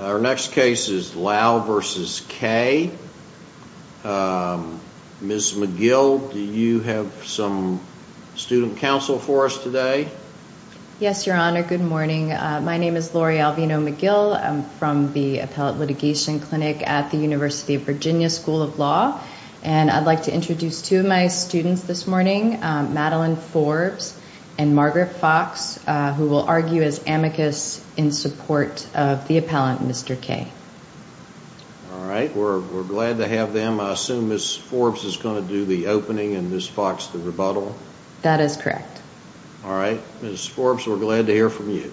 Our next case is Lau v. Kay. Ms. McGill, do you have some student counsel for us today? Yes, Your Honor. Good morning. My name is Lori Alvino-McGill. I'm from the Appellate Litigation Clinic at the University of Virginia School of Law. And I'd like to introduce two of my students this morning, Madeline Forbes and Margaret Fox, who will argue as amicus in support of the appellant, Mr. Kay. All right. We're glad to have them. I assume Ms. Forbes is going to do the opening and Ms. Fox the rebuttal? That is correct. All right. Ms. Forbes, we're glad to hear from you.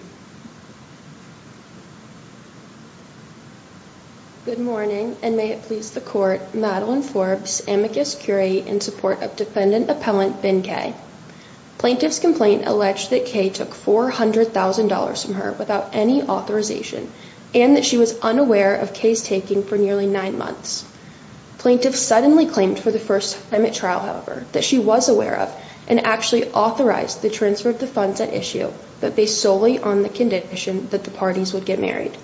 Good morning, and may it please the Court, Madeline Forbes, amicus curiae in support of defendant appellant Bin Kay. Plaintiff's complaint alleged that Kay took $400,000 from her without any authorization and that she was unaware of Kay's taking for nearly nine months. Plaintiff suddenly claimed for the first time at trial, however, that she was aware of and actually authorized the transfer of the funds at issue, but based solely on the condition that the parties would get married.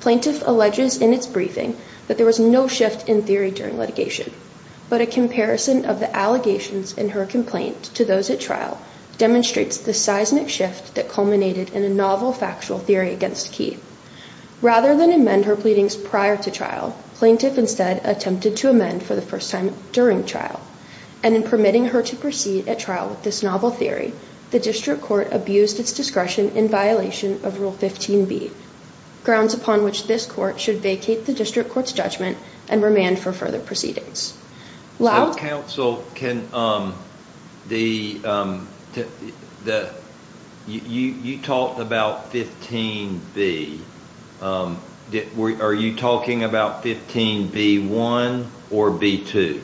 Plaintiff alleges in its briefing that there was no shift in theory during litigation. But a comparison of the allegations in her complaint to those at trial demonstrates the seismic shift that culminated in a novel factual theory against Kay. Rather than amend her pleadings prior to trial, plaintiff instead attempted to amend for the first time during trial. And in permitting her to proceed at trial with this novel theory, the district court abused its discretion in violation of Rule 15b, grounds upon which this court should vacate the district court's judgment and remand for further proceedings. So counsel, you talked about 15b. Are you talking about 15b-1 or b-2?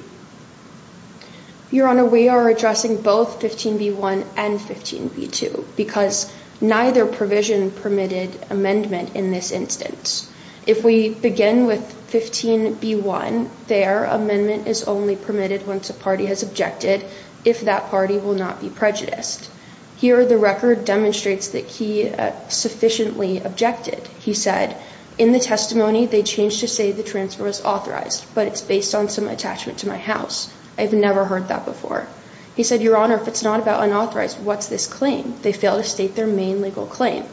Your Honor, we are addressing both 15b-1 and 15b-2 because neither provision permitted amendment in this instance. If we begin with 15b-1, there, amendment is only permitted once a party has objected, if that party will not be prejudiced. Here, the record demonstrates that Kay sufficiently objected. He said, in the testimony, they changed to say the transfer was authorized, but it's based on some attachment to my house. I've never heard that before. He said, Your Honor, if it's not about unauthorized, what's this claim? They failed to state their main legal claim.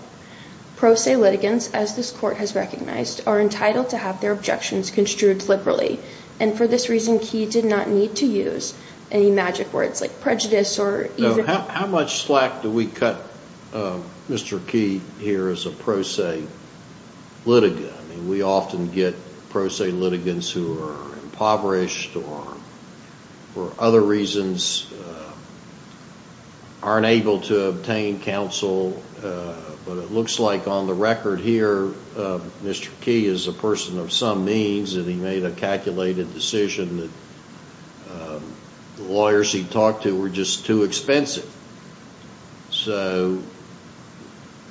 Pro se litigants, as this court has recognized, are entitled to have their objections construed liberally. And for this reason, Kay did not need to use any magic words like prejudice or even... How much slack do we cut Mr. Key here as a pro se litigant? We often get pro se litigants who are impoverished or, for other reasons, aren't able to obtain counsel. But it looks like on the record here, Mr. Key is a person of some means, and he made a calculated decision that the lawyers he talked to were just too expensive. So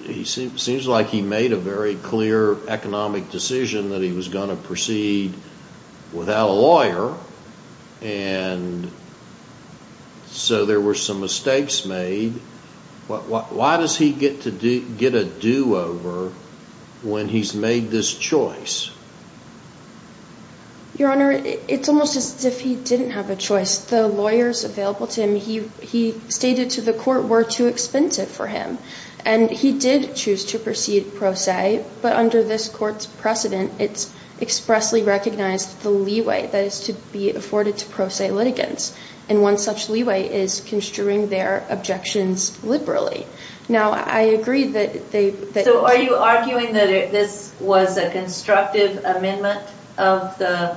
it seems like he made a very clear economic decision that he was going to proceed without a lawyer. And so there were some mistakes made. Why does he get a do-over when he's made this choice? Your Honor, it's almost as if he didn't have a choice. The lawyers available to him, he stated to the court, were too expensive for him. And he did choose to proceed pro se, but under this court's precedent, it's expressly recognized the leeway that is to be afforded to pro se litigants. And one such leeway is construing their objections liberally. Now, I agree that they... So are you arguing that this was a constructive amendment of the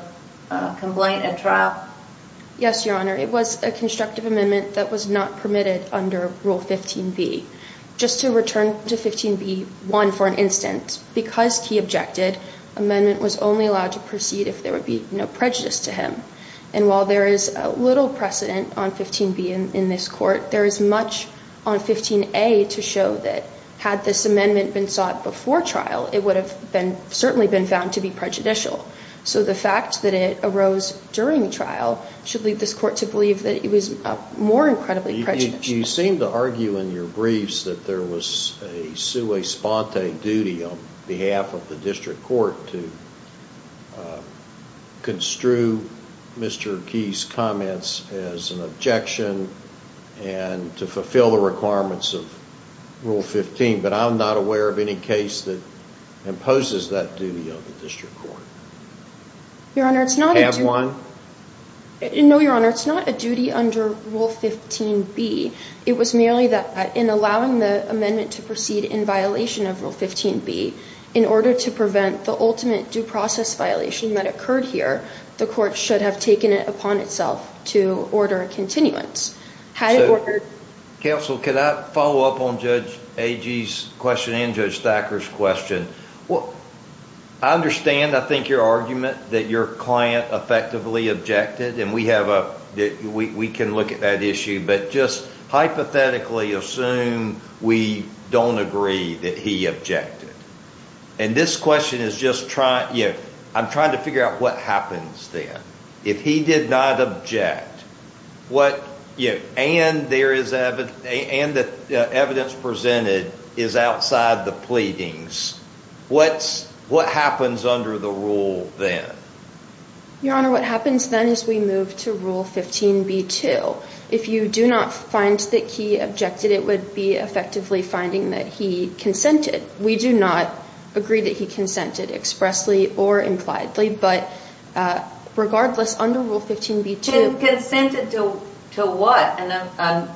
complaint at trial? Yes, Your Honor. It was a constructive amendment that was not permitted under Rule 15b. Just to return to 15b-1 for an instant, because Key objected, amendment was only allowed to proceed if there would be no prejudice to him. And while there is little precedent on 15b in this court, there is much on 15a to show that had this amendment been sought before trial, it would have certainly been found to be prejudicial. So the fact that it arose during trial should lead this court to believe that it was more incredibly prejudicial. You seem to argue in your briefs that there was a sui sponte duty on behalf of the district court to construe Mr. Key's comments as an objection and to fulfill the requirements of Rule 15, but I'm not aware of any case that imposes that duty on the district court. Your Honor, it's not a duty... It was merely that in allowing the amendment to proceed in violation of Rule 15b, in order to prevent the ultimate due process violation that occurred here, the court should have taken it upon itself to order a continuance. Counsel, can I follow up on Judge Agee's question and Judge Thacker's question? I understand, I think, your argument that your client effectively objected, and we can look at that issue, but just hypothetically assume we don't agree that he objected. And this question is just trying to figure out what happens then. If he did not object and the evidence presented is outside the pleadings, what happens under the rule then? Your Honor, what happens then is we move to Rule 15b-2. If you do not find that he objected, it would be effectively finding that he consented. We do not agree that he consented expressly or impliedly, but regardless, under Rule 15b-2... Consented to what? A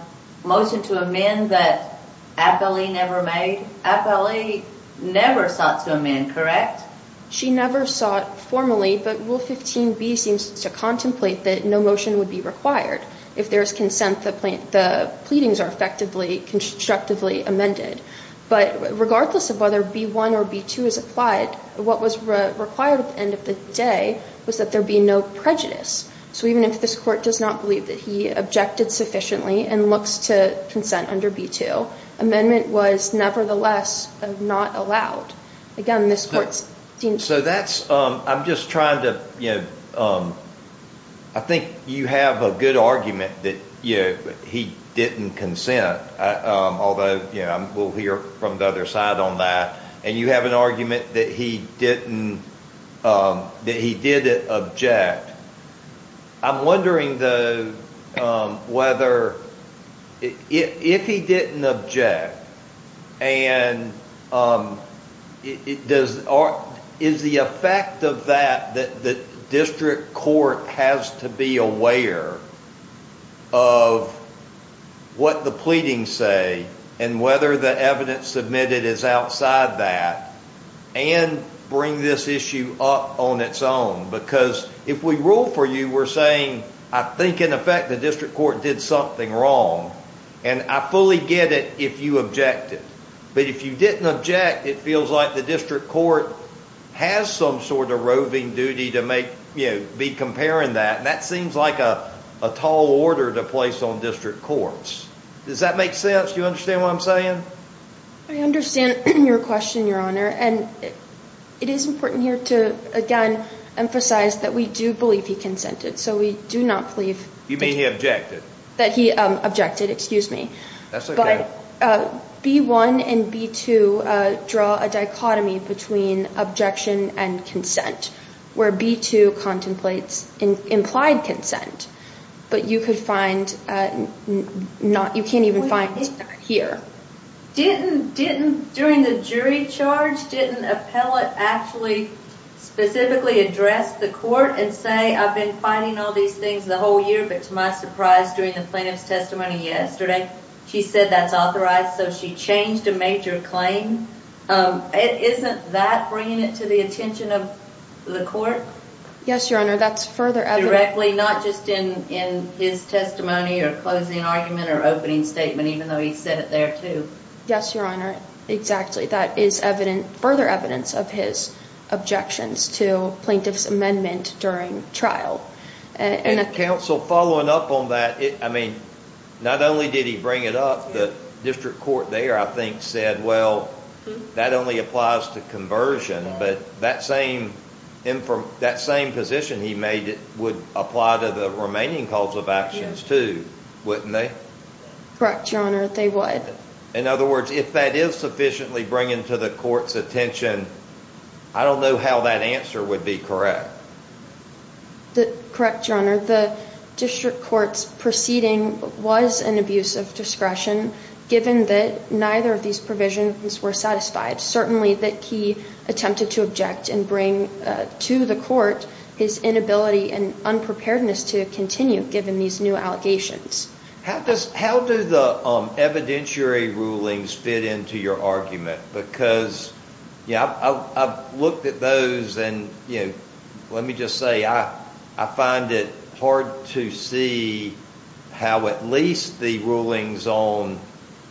motion to amend that Appellee never made? Appellee never sought to amend, correct? She never sought formally, but Rule 15b seems to contemplate that no motion would be required if there is consent that the pleadings are effectively constructively amended. But regardless of whether B-1 or B-2 is applied, what was required at the end of the day was that there be no prejudice. So even if this Court does not believe that he objected sufficiently and looks to consent under B-2, amendment was nevertheless not allowed. Again, this Court seems to... So that's... I'm just trying to... I think you have a good argument that he didn't consent, although we'll hear from the other side on that, and you have an argument that he didn't object. I'm wondering, though, whether... If he didn't object, is the effect of that that District Court has to be aware of what the pleadings say and whether the evidence submitted is outside that and bring this issue up on its own? Because if we rule for you, we're saying, I think, in effect, the District Court did something wrong, and I fully get it if you objected. But if you didn't object, it feels like the District Court has some sort of roving duty to be comparing that, and that seems like a tall order to place on District Courts. Does that make sense? Do you understand what I'm saying? I understand your question, Your Honor. And it is important here to, again, emphasize that we do believe he consented, so we do not believe... You mean he objected. That he objected, excuse me. That's okay. But B-1 and B-2 draw a dichotomy between objection and consent, where B-2 contemplates implied consent, but you can't even find it here. Didn't, during the jury charge, didn't appellate actually specifically address the court and say, I've been fighting all these things the whole year, but to my surprise, during the plaintiff's testimony yesterday, she said that's authorized, so she changed a major claim. Isn't that bringing it to the attention of the court? Yes, Your Honor, that's further evidence. Exactly, not just in his testimony or closing argument or opening statement, even though he said it there, too. Yes, Your Honor, exactly. That is further evidence of his objections to plaintiff's amendment during trial. Counsel, following up on that, I mean, not only did he bring it up, the District Court there, I think, said, well, that only applies to conversion, but that same position he made it would apply to the remaining calls of actions, too, wouldn't they? Correct, Your Honor, they would. In other words, if that is sufficiently bringing to the court's attention, I don't know how that answer would be correct. Correct, Your Honor, the District Court's proceeding was an abuse of discretion, given that neither of these provisions were satisfied, certainly that he attempted to object and bring to the court his inability and unpreparedness to continue, given these new allegations. How do the evidentiary rulings fit into your argument? Because, yeah, I've looked at those and, you know, let me just say I find it hard to see how at least the rulings on,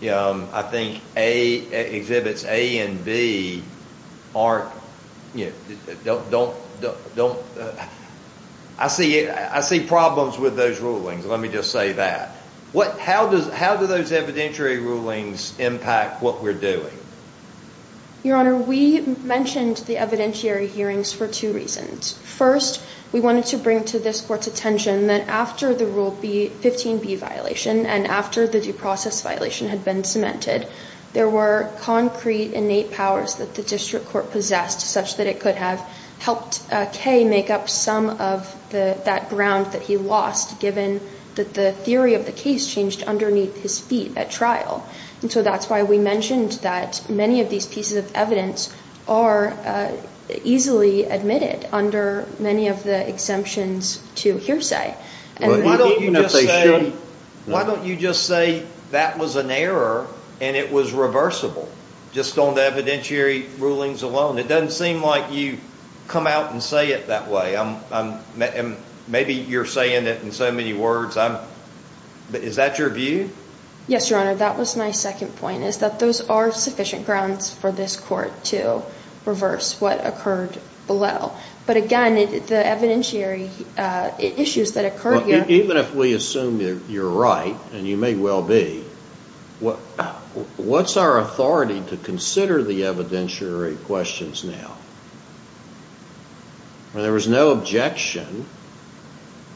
I think, Exhibits A and B aren't, you know, don't, I see problems with those rulings, let me just say that. How do those evidentiary rulings impact what we're doing? Your Honor, we mentioned the evidentiary hearings for two reasons. First, we wanted to bring to this court's attention that after the Rule 15B violation and after the due process violation had been cemented, there were concrete innate powers that the District Court possessed, such that it could have helped Kay make up some of that ground that he lost, given that the theory of the case changed underneath his feet at trial. And so that's why we mentioned that many of these pieces of evidence are easily admitted under many of the exemptions to hearsay. Why don't you just say that was an error and it was reversible, just on the evidentiary rulings alone? It doesn't seem like you come out and say it that way. Maybe you're saying it in so many words. Is that your view? Yes, Your Honor, that was my second point, is that those are sufficient grounds for this court to reverse what occurred below. But again, the evidentiary issues that occurred here— Even if we assume you're right, and you may well be, what's our authority to consider the evidentiary questions now? There was no objection.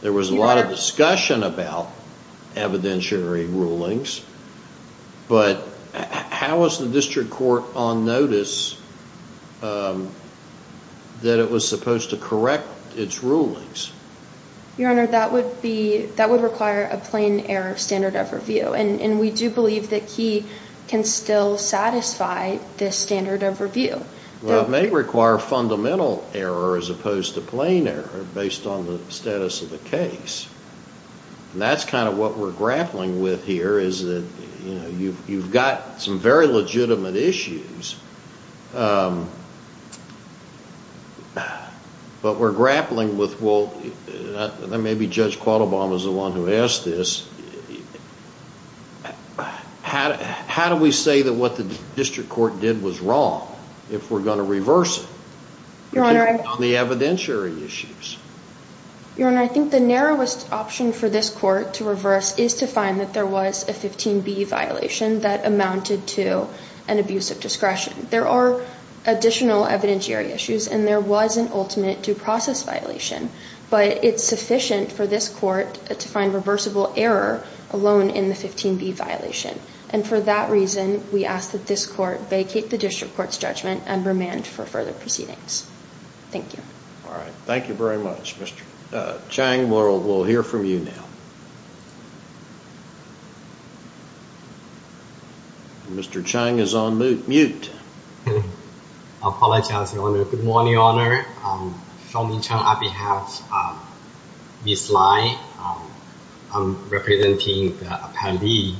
There was a lot of discussion about evidentiary rulings, but how was the District Court on notice that it was supposed to correct its rulings? Your Honor, that would require a plain error standard of review, and we do believe that Key can still satisfy this standard of review. Well, it may require fundamental error as opposed to plain error, based on the status of the case. And that's kind of what we're grappling with here, is that you've got some very legitimate issues, but we're grappling with— and maybe Judge Quattlebaum is the one who asked this— how do we say that what the District Court did was wrong if we're going to reverse it? Your Honor— On the evidentiary issues. Your Honor, I think the narrowest option for this court to reverse is to find that there was a 15B violation that amounted to an abuse of discretion. There are additional evidentiary issues, and there was an ultimate due process violation, but it's sufficient for this court to find reversible error alone in the 15B violation. And for that reason, we ask that this court vacate the District Court's judgment and remand for further proceedings. Thank you. All right. Thank you very much, Mr. Chang. We'll hear from you now. Mr. Chang is on mute. I apologize, Your Honor. Good morning, Your Honor. On behalf of Ms. Lai, I'm representing the appellee.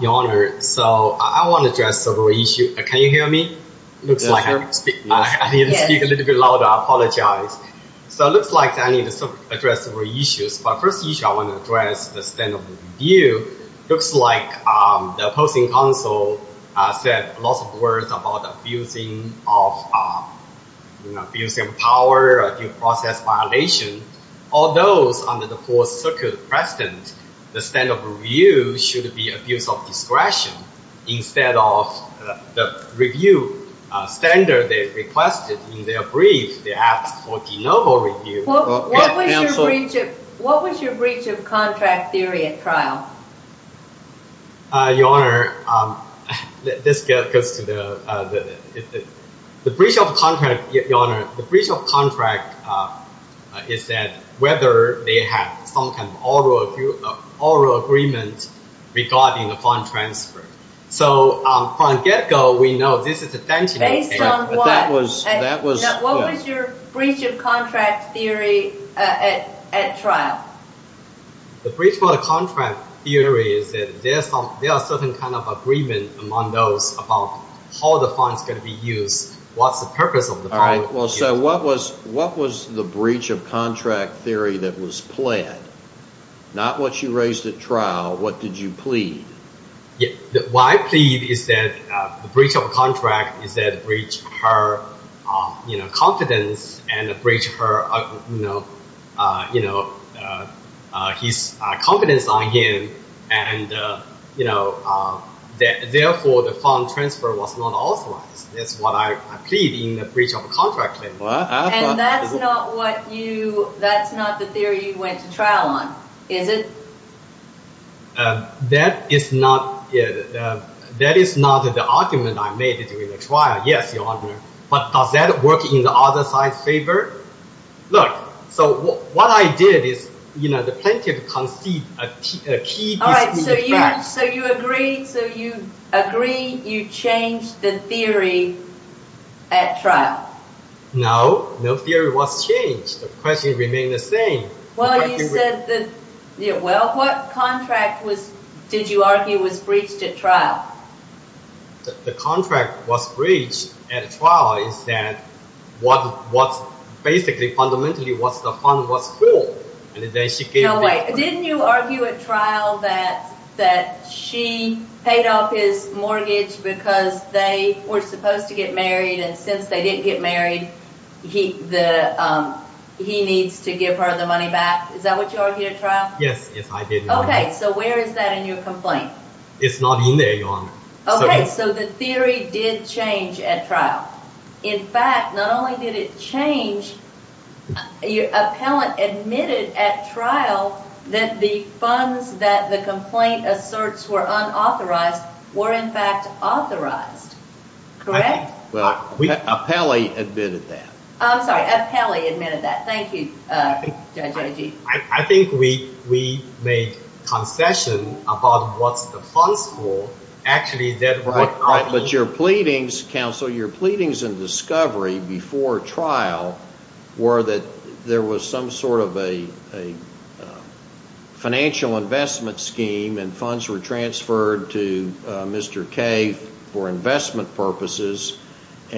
Your Honor, I want to address several issues. Can you hear me? It looks like I need to speak a little bit louder. I apologize. It looks like I need to address several issues. The first issue I want to address is the stand-up review. It looks like the opposing counsel said lots of words about abusing of power, due process violation. All those under the Fourth Circuit precedent, the stand-up review should be abuse of discretion instead of the review standard they requested in their brief. They asked for de novo review. What was your breach of contract theory at trial? Your Honor, this goes to the breach of contract. Your Honor, the breach of contract is that whether they have some kind of oral agreement regarding the fund transfer. So from the get-go, we know this is a tantamount case. Based on what? What was your breach of contract theory at trial? The breach of contract theory is that there is a certain kind of agreement among those about how the funds can be used, what's the purpose of the funds. So what was the breach of contract theory that was pled? Not what you raised at trial. What did you plead? What I plead is that the breach of contract is that breach her confidence and breach his confidence on him, and therefore the fund transfer was not authorized. That's what I plead in the breach of contract claim. And that's not what you, that's not the theory you went to trial on, is it? That is not the argument I made during the trial, yes, Your Honor. But does that work in the other side's favor? Look, so what I did is, you know, the plaintiff concedes a key dispute. All right, so you agree you changed the theory at trial? No, no theory was changed. The question remained the same. Well, you said that, well, what contract was, did you argue, was breached at trial? The contract was breached at trial is that what was basically, fundamentally, was the fund was full. No way. Didn't you argue at trial that she paid off his mortgage because they were supposed to get married, and since they didn't get married, he needs to give her the money back? Is that what you argued at trial? Yes, yes, I did. Okay, so where is that in your complaint? It's not in there, Your Honor. Okay, so the theory did change at trial. In fact, not only did it change, your appellant admitted at trial that the funds that the complaint asserts were unauthorized were in fact authorized. Correct? Well, appellee admitted that. I'm sorry, appellee admitted that. Thank you, Judge Agee. I think we made concession about what the funds were. Actually, that was not the…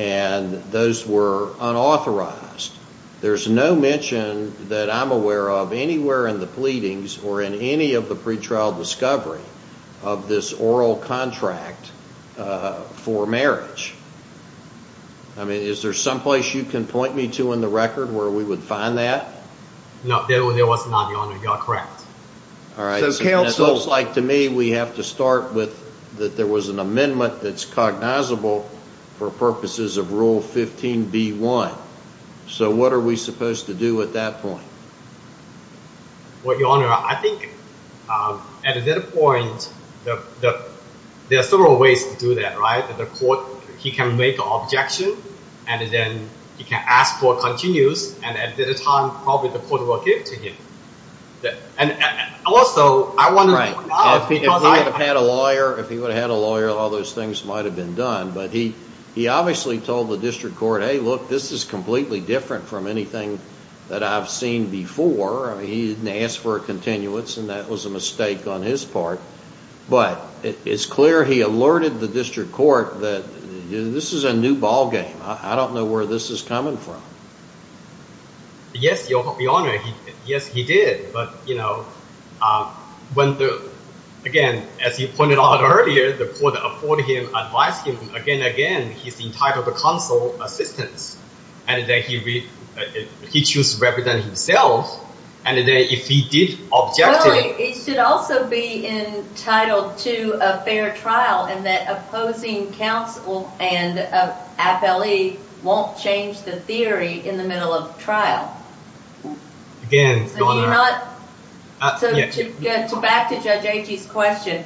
and those were unauthorized. There's no mention that I'm aware of anywhere in the pleadings or in any of the pretrial discovery of this oral contract for marriage. I mean, is there someplace you can point me to in the record where we would find that? No, there was not, Your Honor. You are correct. All right. It looks like to me we have to start with that there was an amendment that's cognizable for purposes of Rule 15b-1. So what are we supposed to do at that point? Well, Your Honor, I think at that point, there are several ways to do that, right? The court, he can make an objection, and then he can ask for continues, and at that time, probably the court will give it to him. Also, I wonder… Right. If he would have had a lawyer, all those things might have been done. But he obviously told the district court, hey, look, this is completely different from anything that I've seen before. I mean, he didn't ask for a continuance, and that was a mistake on his part. But it's clear he alerted the district court that this is a new ballgame. I don't know where this is coming from. Yes, Your Honor. Yes, he did. But, you know, again, as he pointed out earlier, the court afforded him, advised him, again and again, he's entitled to counsel assistance. And then he chooses to represent himself. And then if he did object to it… Well, he should also be entitled to a fair trial, and that opposing counsel and appellee won't change the theory in the middle of trial. Again, Your Honor… To back to Judge Agee's question,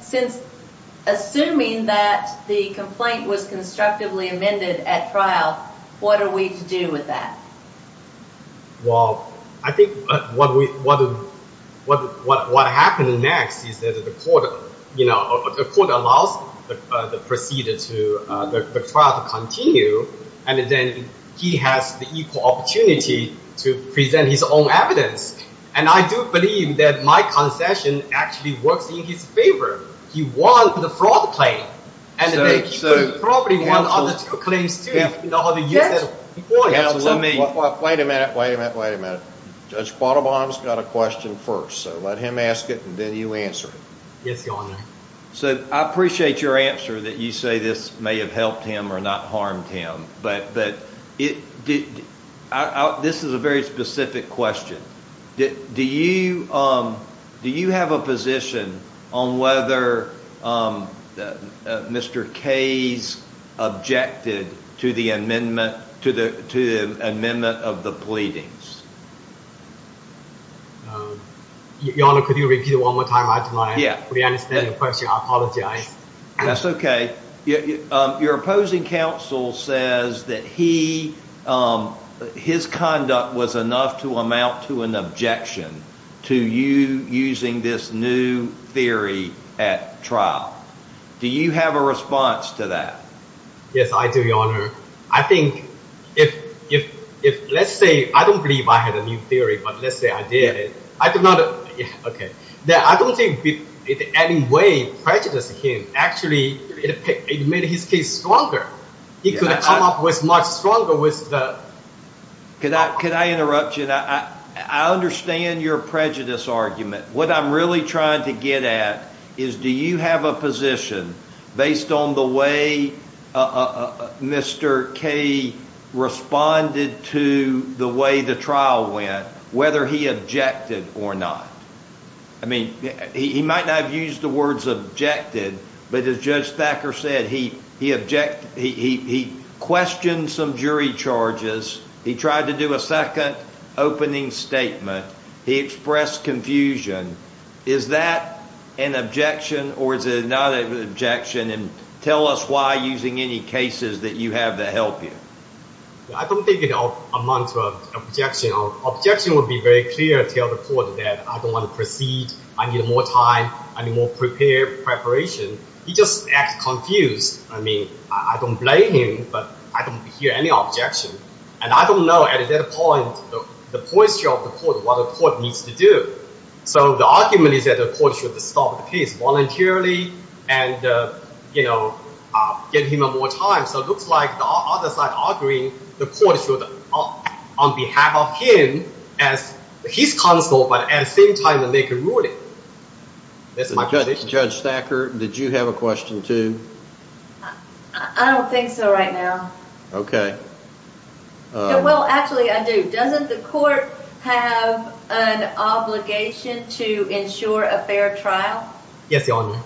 since assuming that the complaint was constructively amended at trial, what are we to do with that? Well, I think what happens next is that the court allows the trial to continue, and then he has the equal opportunity to present his own evidence. And I do believe that my concession actually works in his favor. He won the fraud claim, and then he probably won the other two claims too. Wait a minute, wait a minute, wait a minute. Judge Bottlebaum's got a question first, so let him ask it and then you answer it. Yes, Your Honor. So I appreciate your answer that you say this may have helped him or not harmed him, but this is a very specific question. Do you have a position on whether Mr. Kaye's objected to the amendment of the pleadings? Your Honor, could you repeat it one more time? I'm trying to re-understand your question. I apologize. That's okay. Your opposing counsel says that his conduct was enough to amount to an objection to you using this new theory at trial. Do you have a response to that? Yes, I do, Your Honor. I think if, let's say, I don't believe I had a new theory, but let's say I did. I don't think it in any way prejudiced him. Actually, it made his case stronger. He could have come up much stronger with the… Could I interrupt you? I understand your prejudice argument. What I'm really trying to get at is do you have a position based on the way Mr. Kaye responded to the way the trial went, whether he objected or not? I mean, he might not have used the words objected, but as Judge Thacker said, he questioned some jury charges. He tried to do a second opening statement. He expressed confusion. Is that an objection or is it not an objection? Tell us why, using any cases that you have that help you. I don't think it amounts to an objection. Objection would be very clear to the court that I don't want to proceed. I need more time. I need more preparation. He just acted confused. I mean, I don't blame him, but I don't hear any objection. And I don't know at that point the posture of the court, what the court needs to do. So the argument is that the court should stop the case voluntarily and give him more time. So it looks like the other side is arguing the court should, on behalf of him, as his counsel, but at the same time make a ruling. Judge Thacker, did you have a question too? I don't think so right now. Okay. Well, actually I do. Doesn't the court have an obligation to ensure a fair trial? Yes, Your Honor.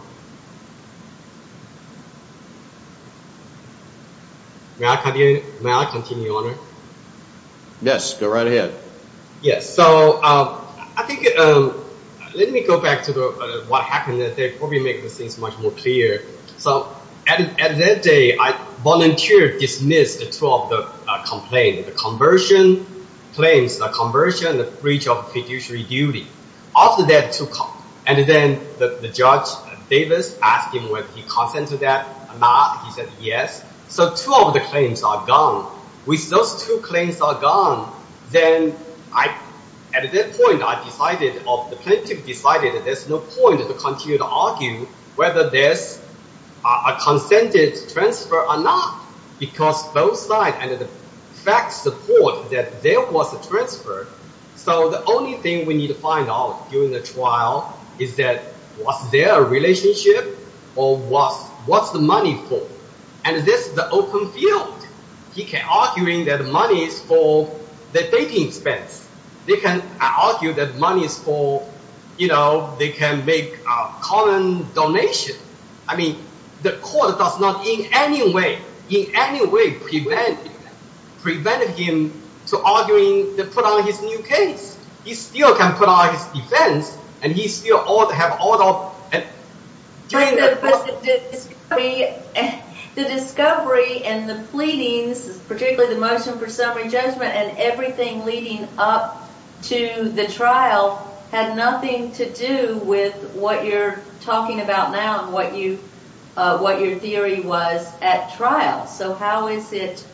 May I continue, Your Honor? Yes, go right ahead. Yes, so I think, let me go back to what happened that day, probably make things much more clear. So at that day, I volunteered dismissed two of the complaints, the conversion claims, the conversion, the breach of fiduciary duty. And then the judge, Davis, asked him whether he consented to that or not. He said yes. So two of the claims are gone. With those two claims are gone, then at that point, the plaintiff decided there's no point to continue to argue whether there's a consented transfer or not. Because both sides support that there was a transfer. So the only thing we need to find out during the trial is that was there a relationship or what's the money for? And this is the open field. He can argue that the money is for the dating expense. They can argue that money is for, you know, they can make a common donation. I mean, the court does not in any way, in any way, prevent him to arguing to put on his new case. He still can put on his defense and he still ought to have all the... The discovery and the pleadings, particularly the motion for summary judgment and everything leading up to the trial had nothing to do with what you're talking about now and what you, what your theory was at trial. So how is it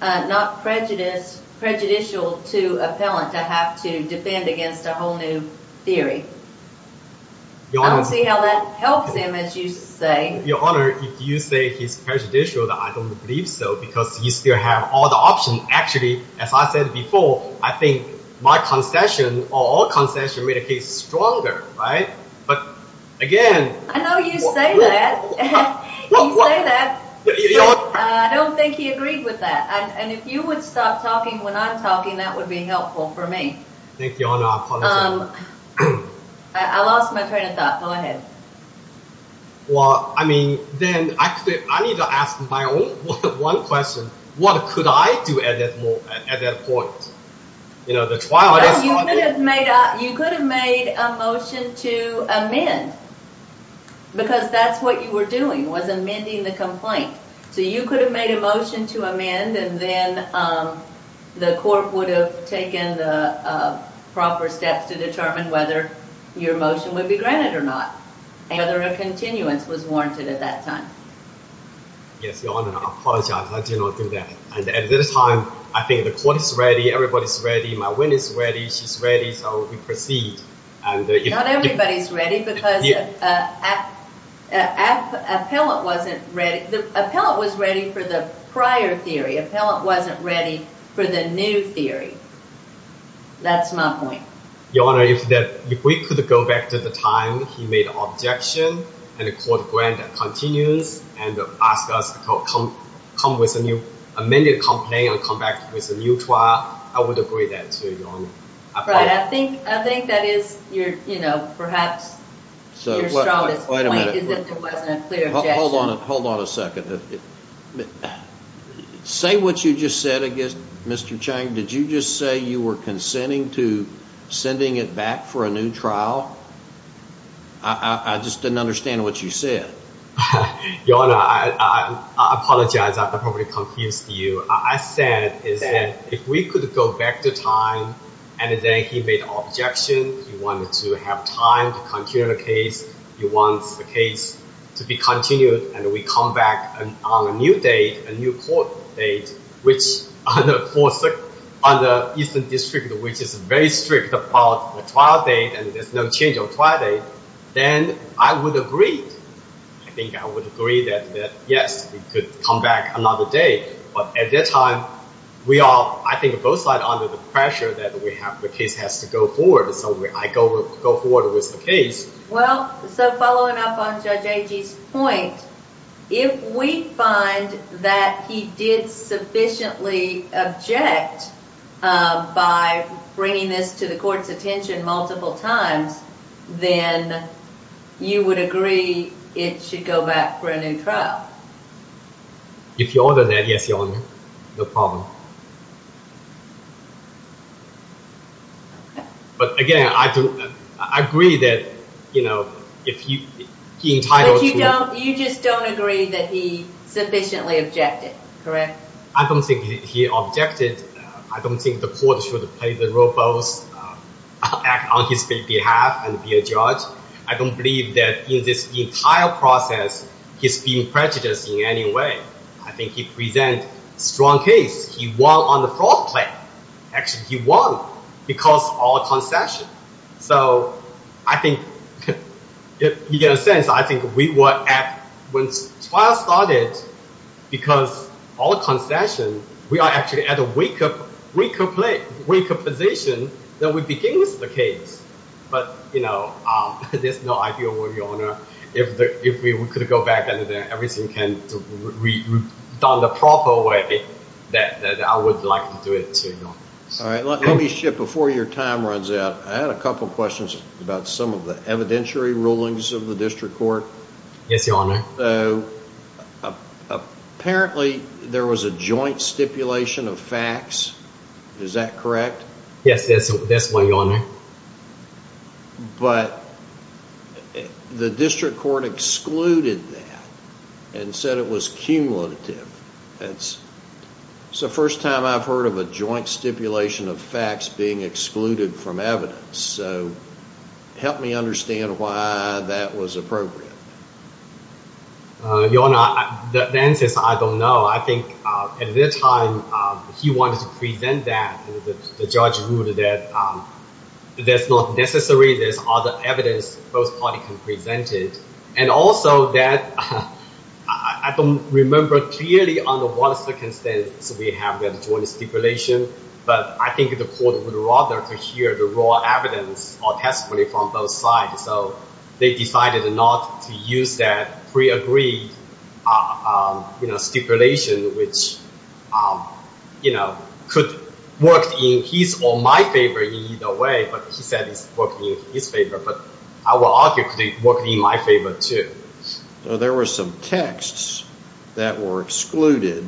not prejudiced, prejudicial to appellant to have to defend against a whole new theory? I don't see how that helps him, as you say. Your Honor, if you say he's prejudicial, I don't believe so because you still have all the options. Actually, as I said before, I think my concession or all concessions made a case stronger, right? But again... I know you say that. You say that, but I don't think he agreed with that. And if you would stop talking when I'm talking, that would be helpful for me. Thank you, Your Honor. I apologize. I lost my train of thought. Go ahead. Well, I mean, then I need to ask my own one question. What could I do at that point? You know, the trial... You could have made a motion to amend, because that's what you were doing, was amending the complaint. So you could have made a motion to amend, and then the court would have taken the proper steps to determine whether your motion would be granted or not, and whether a continuance was warranted at that time. Yes, Your Honor. I apologize. I did not do that. And at that time, I think the court is ready. Everybody's ready. My witness is ready. She's ready. So we proceed. Not everybody's ready because the appellant wasn't ready. The appellant was ready for the prior theory. The appellant wasn't ready for the new theory. That's my point. Your Honor, if we could go back to the time he made the objection, and the court granted continuance, and asked us to amend the complaint and come back with a new trial, I would agree to that, too, Your Honor. Right. I think that is perhaps your strongest point, is that there wasn't a clear objection. Hold on a second. Say what you just said, I guess, Mr. Chang. Did you just say you were consenting to sending it back for a new trial? I just didn't understand what you said. Your Honor, I apologize. I probably confused you. I said that if we could go back to time, and then he made the objection, he wanted to have time to continue the case, he wants the case to be continued, and we come back on a new date, a new court date, which on the Eastern District, which is very strict about the trial date, and there's no change of trial date, then I would agree. I think I would agree that, yes, we could come back another day, but at that time, we are, I think, both sides under the pressure that the case has to go forward. So I go forward with the case. Well, so following up on Judge Agee's point, if we find that he did sufficiently object by bringing this to the court's attention multiple times, then you would agree it should go back for a new trial? If you order that, yes, Your Honor. No problem. Okay. But again, I agree that, you know, if he entitled to— But you don't, you just don't agree that he sufficiently objected, correct? I don't think he objected. I don't think the court should play the role both on his behalf and be a judge. I don't believe that in this entire process, he's being prejudiced in any way. I think he presented a strong case. He won on the fraud claim. Actually, he won because of all concession. So I think, if you get a sense, I think we were at—when the trial started, because of all concession, we are actually at a weaker position than we began with the case. But, you know, there's no idea, Your Honor. If we could go back and everything can be done the proper way, then I would like to do it, too, Your Honor. All right. Let me shift before your time runs out. I had a couple of questions about some of the evidentiary rulings of the district court. Yes, Your Honor. Apparently, there was a joint stipulation of facts. Is that correct? Yes, that's one, Your Honor. But the district court excluded that and said it was cumulative. That's the first time I've heard of a joint stipulation of facts being excluded from evidence. So help me understand why that was appropriate. Your Honor, the answer is I don't know. I think at the time he wanted to present that, the judge ruled that that's not necessary. There's other evidence both parties can present it. And also that I don't remember clearly under what circumstances we have that joint stipulation, but I think the court would rather hear the raw evidence or testimony from both sides. So they decided not to use that pre-agreed stipulation, which could work in his or my favor either way. But he said it's working in his favor, but I will argue it could work in my favor, too. There were some texts that were excluded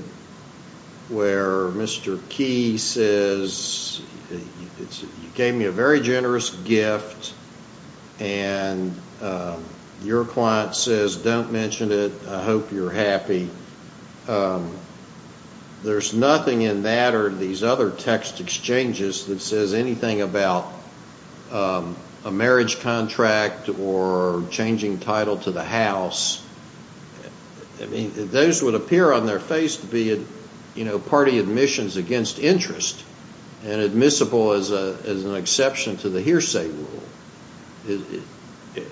where Mr. Key says, you gave me a very generous gift, and your client says, don't mention it, I hope you're happy. There's nothing in that or these other text exchanges that says anything about a marriage contract or changing title to the house. I mean, those would appear on their face to be party admissions against interest and admissible as an exception to the hearsay rule.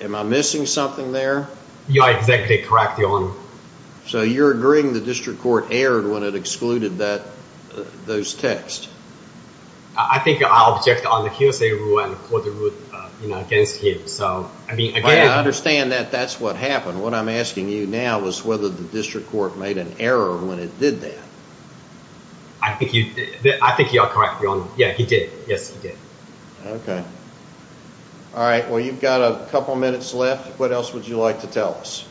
Am I missing something there? Yeah, exactly correct, Your Honor. So you're agreeing the district court erred when it excluded those texts? I think I object on the hearsay rule and the court rule against him. I understand that that's what happened. What I'm asking you now is whether the district court made an error when it did that. I think you are correct, Your Honor. Yeah, he did. Yes, he did. Okay. All right. Well, you've got a couple minutes left. What else would you like to tell us?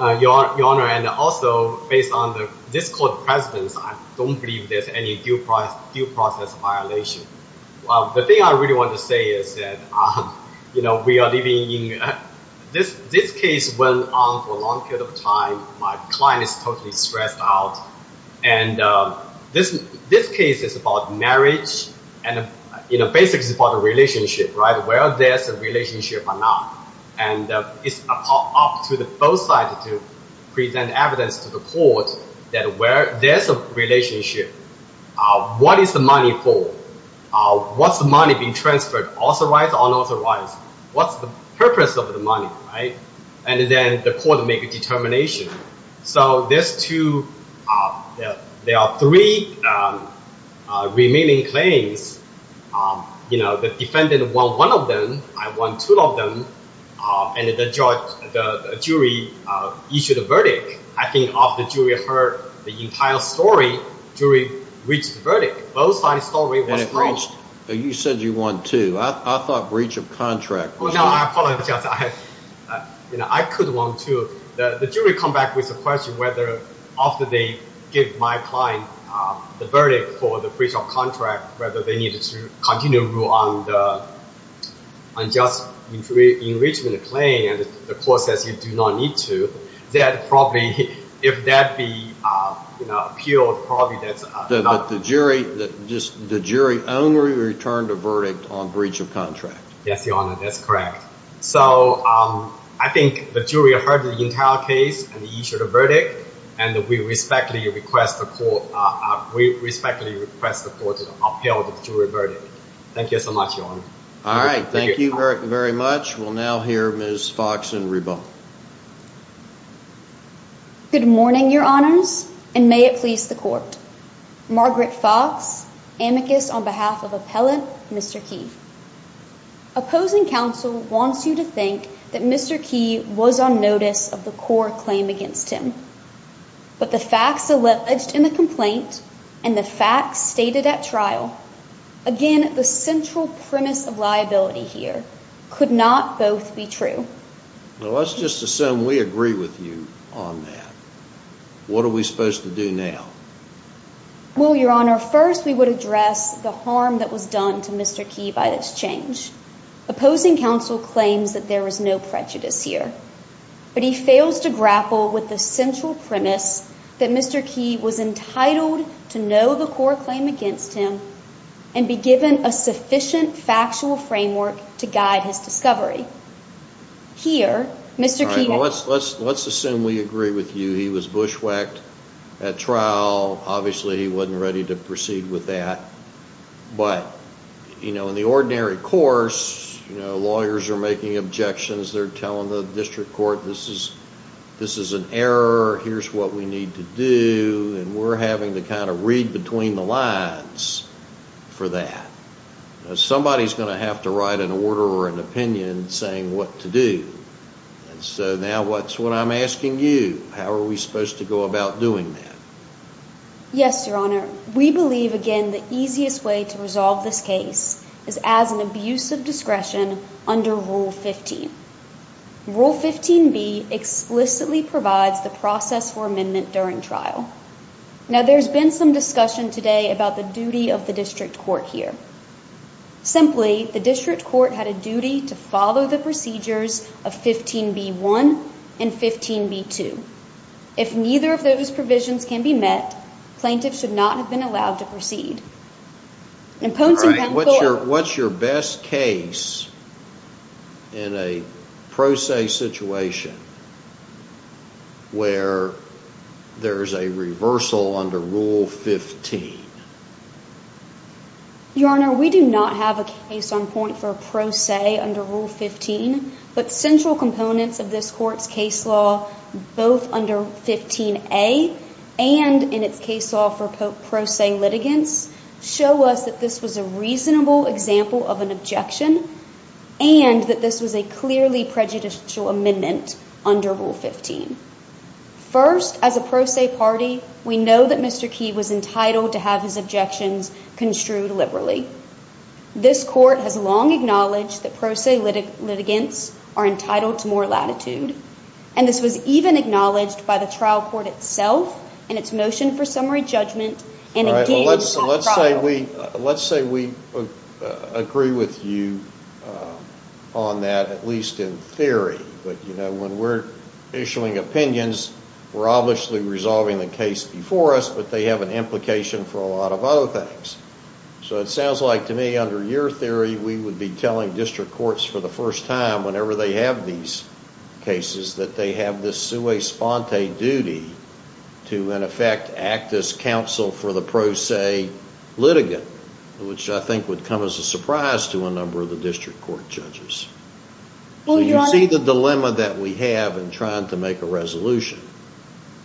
Your Honor, and also based on the district court precedence, I don't believe there's any due process violation. The thing I really want to say is that we are living in—this case went on for a long period of time. My client is totally stressed out. And this case is about marriage, and basically it's about a relationship, right? Whether there's a relationship or not. And it's up to both sides to present evidence to the court that there's a relationship. What is the money for? What's the money being transferred? Authorized or unauthorized? What's the purpose of the money, right? And then the court will make a determination. So there are three remaining claims. The defendant won one of them. I won two of them. And the jury issued a verdict. I think after the jury heard the entire story, jury reached a verdict. Both sides' story was wrong. You said you won two. I thought breach of contract was wrong. Well, now I apologize. I could've won two. The jury come back with a question whether after they give my client the verdict for the breach of contract, whether they need to continue to rule on the unjust enrichment claim, and the court says you do not need to, that probably, if that be appealed, probably that's not— But the jury only returned a verdict on breach of contract. Yes, Your Honor, that's correct. So I think the jury heard the entire case and issued a verdict, and we respectfully request the court to appeal the jury verdict. Thank you so much, Your Honor. All right, thank you very much. We'll now hear Ms. Foxen-Rebo. Good morning, Your Honors, and may it please the court. Margaret Fox, amicus on behalf of Appellant Mr. Keefe. Opposing counsel wants you to think that Mr. Keefe was on notice of the core claim against him, but the facts alleged in the complaint and the facts stated at trial— again, the central premise of liability here—could not both be true. Well, let's just assume we agree with you on that. What are we supposed to do now? Well, Your Honor, first we would address the harm that was done to Mr. Keefe by this change. Opposing counsel claims that there is no prejudice here, but he fails to grapple with the central premise that Mr. Keefe was entitled to know the core claim against him and be given a sufficient factual framework to guide his discovery. Here, Mr. Keefe— Obviously, he wasn't ready to proceed with that. But, you know, in the ordinary course, lawyers are making objections. They're telling the district court, this is an error. Here's what we need to do. And we're having to kind of read between the lines for that. Somebody's going to have to write an order or an opinion saying what to do. And so now what's what I'm asking you? How are we supposed to go about doing that? Yes, Your Honor. We believe, again, the easiest way to resolve this case is as an abuse of discretion under Rule 15. Rule 15b explicitly provides the process for amendment during trial. Now, there's been some discussion today about the duty of the district court here. Simply, the district court had a duty to follow the procedures of 15b-1 and 15b-2. If neither of those provisions can be met, plaintiffs should not have been allowed to proceed. What's your best case in a pro se situation where there's a reversal under Rule 15? Your Honor, we do not have a case on point for a pro se under Rule 15. But central components of this court's case law, both under 15a and in its case law for pro se litigants, show us that this was a reasonable example of an objection and that this was a clearly prejudicial amendment under Rule 15. First, as a pro se party, we know that Mr. Key was entitled to have his objections construed liberally. This court has long acknowledged that pro se litigants are entitled to more latitude. And this was even acknowledged by the trial court itself in its motion for summary judgment and engaged trial. Let's say we agree with you on that, at least in theory. But, you know, when we're issuing opinions, we're obviously resolving the case before us, but they have an implication for a lot of other things. So it sounds like to me, under your theory, we would be telling district courts for the first time whenever they have these cases that they have this sui sponte duty to, in effect, act as counsel for the pro se litigant, which I think would come as a surprise to a number of the district court judges. Do you see the dilemma that we have in trying to make a resolution?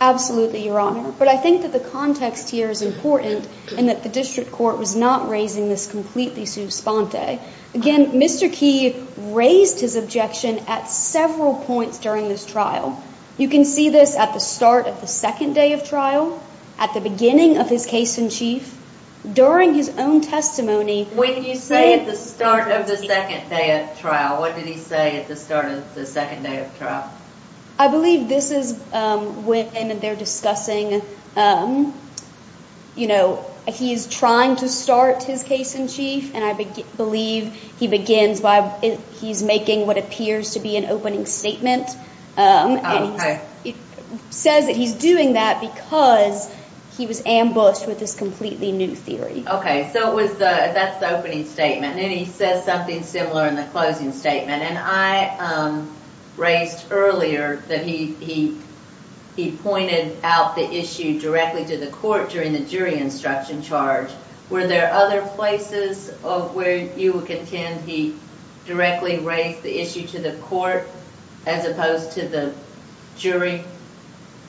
Absolutely, Your Honor. But I think that the context here is important and that the district court was not raising this completely sui sponte. Again, Mr. Key raised his objection at several points during this trial. You can see this at the start of the second day of trial, at the beginning of his case in chief, during his own testimony. When you say at the start of the second day of trial, what did he say at the start of the second day of trial? I believe this is when they're discussing, you know, he's trying to start his case in chief, and I believe he begins by he's making what appears to be an opening statement. It says that he's doing that because he was ambushed with this completely new theory. Okay, so that's the opening statement, and then he says something similar in the closing statement. And I raised earlier that he pointed out the issue directly to the court during the jury instruction charge. Were there other places where you would contend he directly raised the issue to the court as opposed to the jury?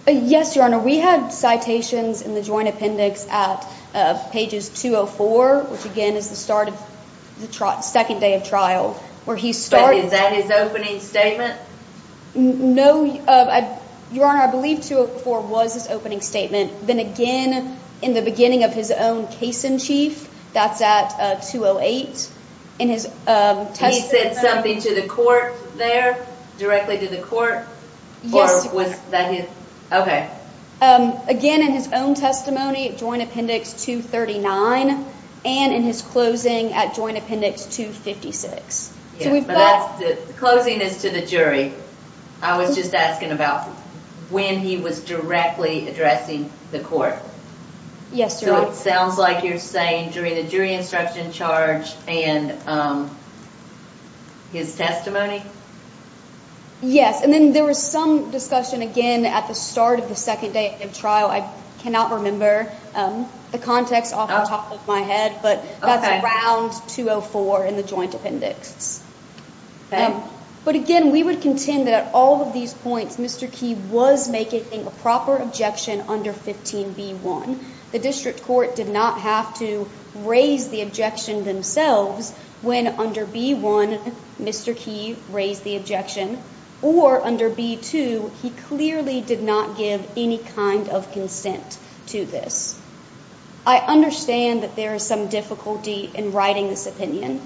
Yes, Your Honor, we had citations in the joint appendix at pages 204, which again is the start of the second day of trial. Is that his opening statement? No, Your Honor, I believe 204 was his opening statement. Then again, in the beginning of his own case in chief, that's at 208, in his testimony. He said something to the court there, directly to the court? Yes, Your Honor. Okay. Again, in his own testimony, joint appendix 239, and in his closing at joint appendix 256. Closing is to the jury. I was just asking about when he was directly addressing the court. Yes, Your Honor. So it sounds like you're saying during the jury instruction charge and his testimony? Yes, and then there was some discussion again at the start of the second day of trial. I cannot remember the context off the top of my head, but that's around 204 in the joint appendix. But again, we would contend that at all of these points, Mr. Key was making a proper objection under 15b1. The district court did not have to raise the objection themselves when under b1, Mr. Key raised the objection. Or under b2, he clearly did not give any kind of consent to this. I understand that there is some difficulty in writing this opinion.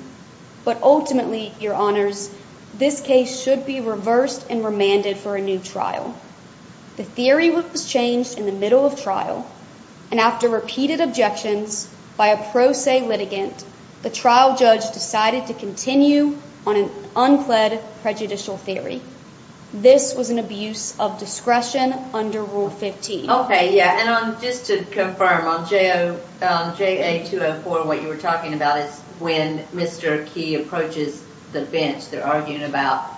But ultimately, Your Honors, this case should be reversed and remanded for a new trial. The theory was changed in the middle of trial, and after repeated objections by a pro se litigant, the trial judge decided to continue on an unpledged prejudicial theory. This was an abuse of discretion under Rule 15. Okay, yeah. And just to confirm, on JA204, what you were talking about is when Mr. Key approaches the bench, they're arguing about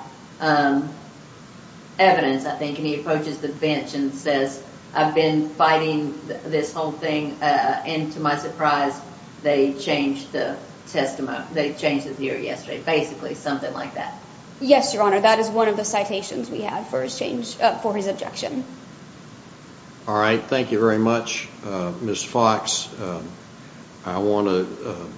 evidence, I think, and he approaches the bench and says, I've been fighting this whole thing, and to my surprise, they changed the testimony, they changed the theory yesterday, basically something like that. Yes, Your Honor, that is one of the citations we have for his objection. All right, thank you very much, Ms. Fox. I want to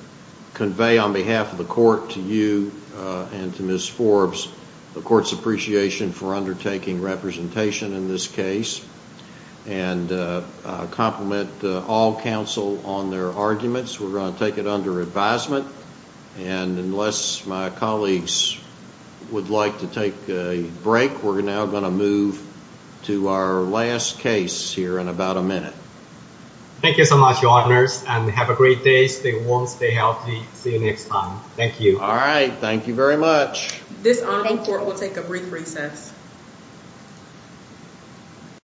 convey on behalf of the court to you and to Ms. Forbes the court's appreciation for undertaking representation in this case and compliment all counsel on their arguments. We're going to take it under advisement, and unless my colleagues would like to take a break, we're now going to move to our last case here in about a minute. Thank you so much, Your Honors, and have a great day, stay warm, stay healthy, see you next time. Thank you. All right, thank you very much. This hearing will take a brief recess.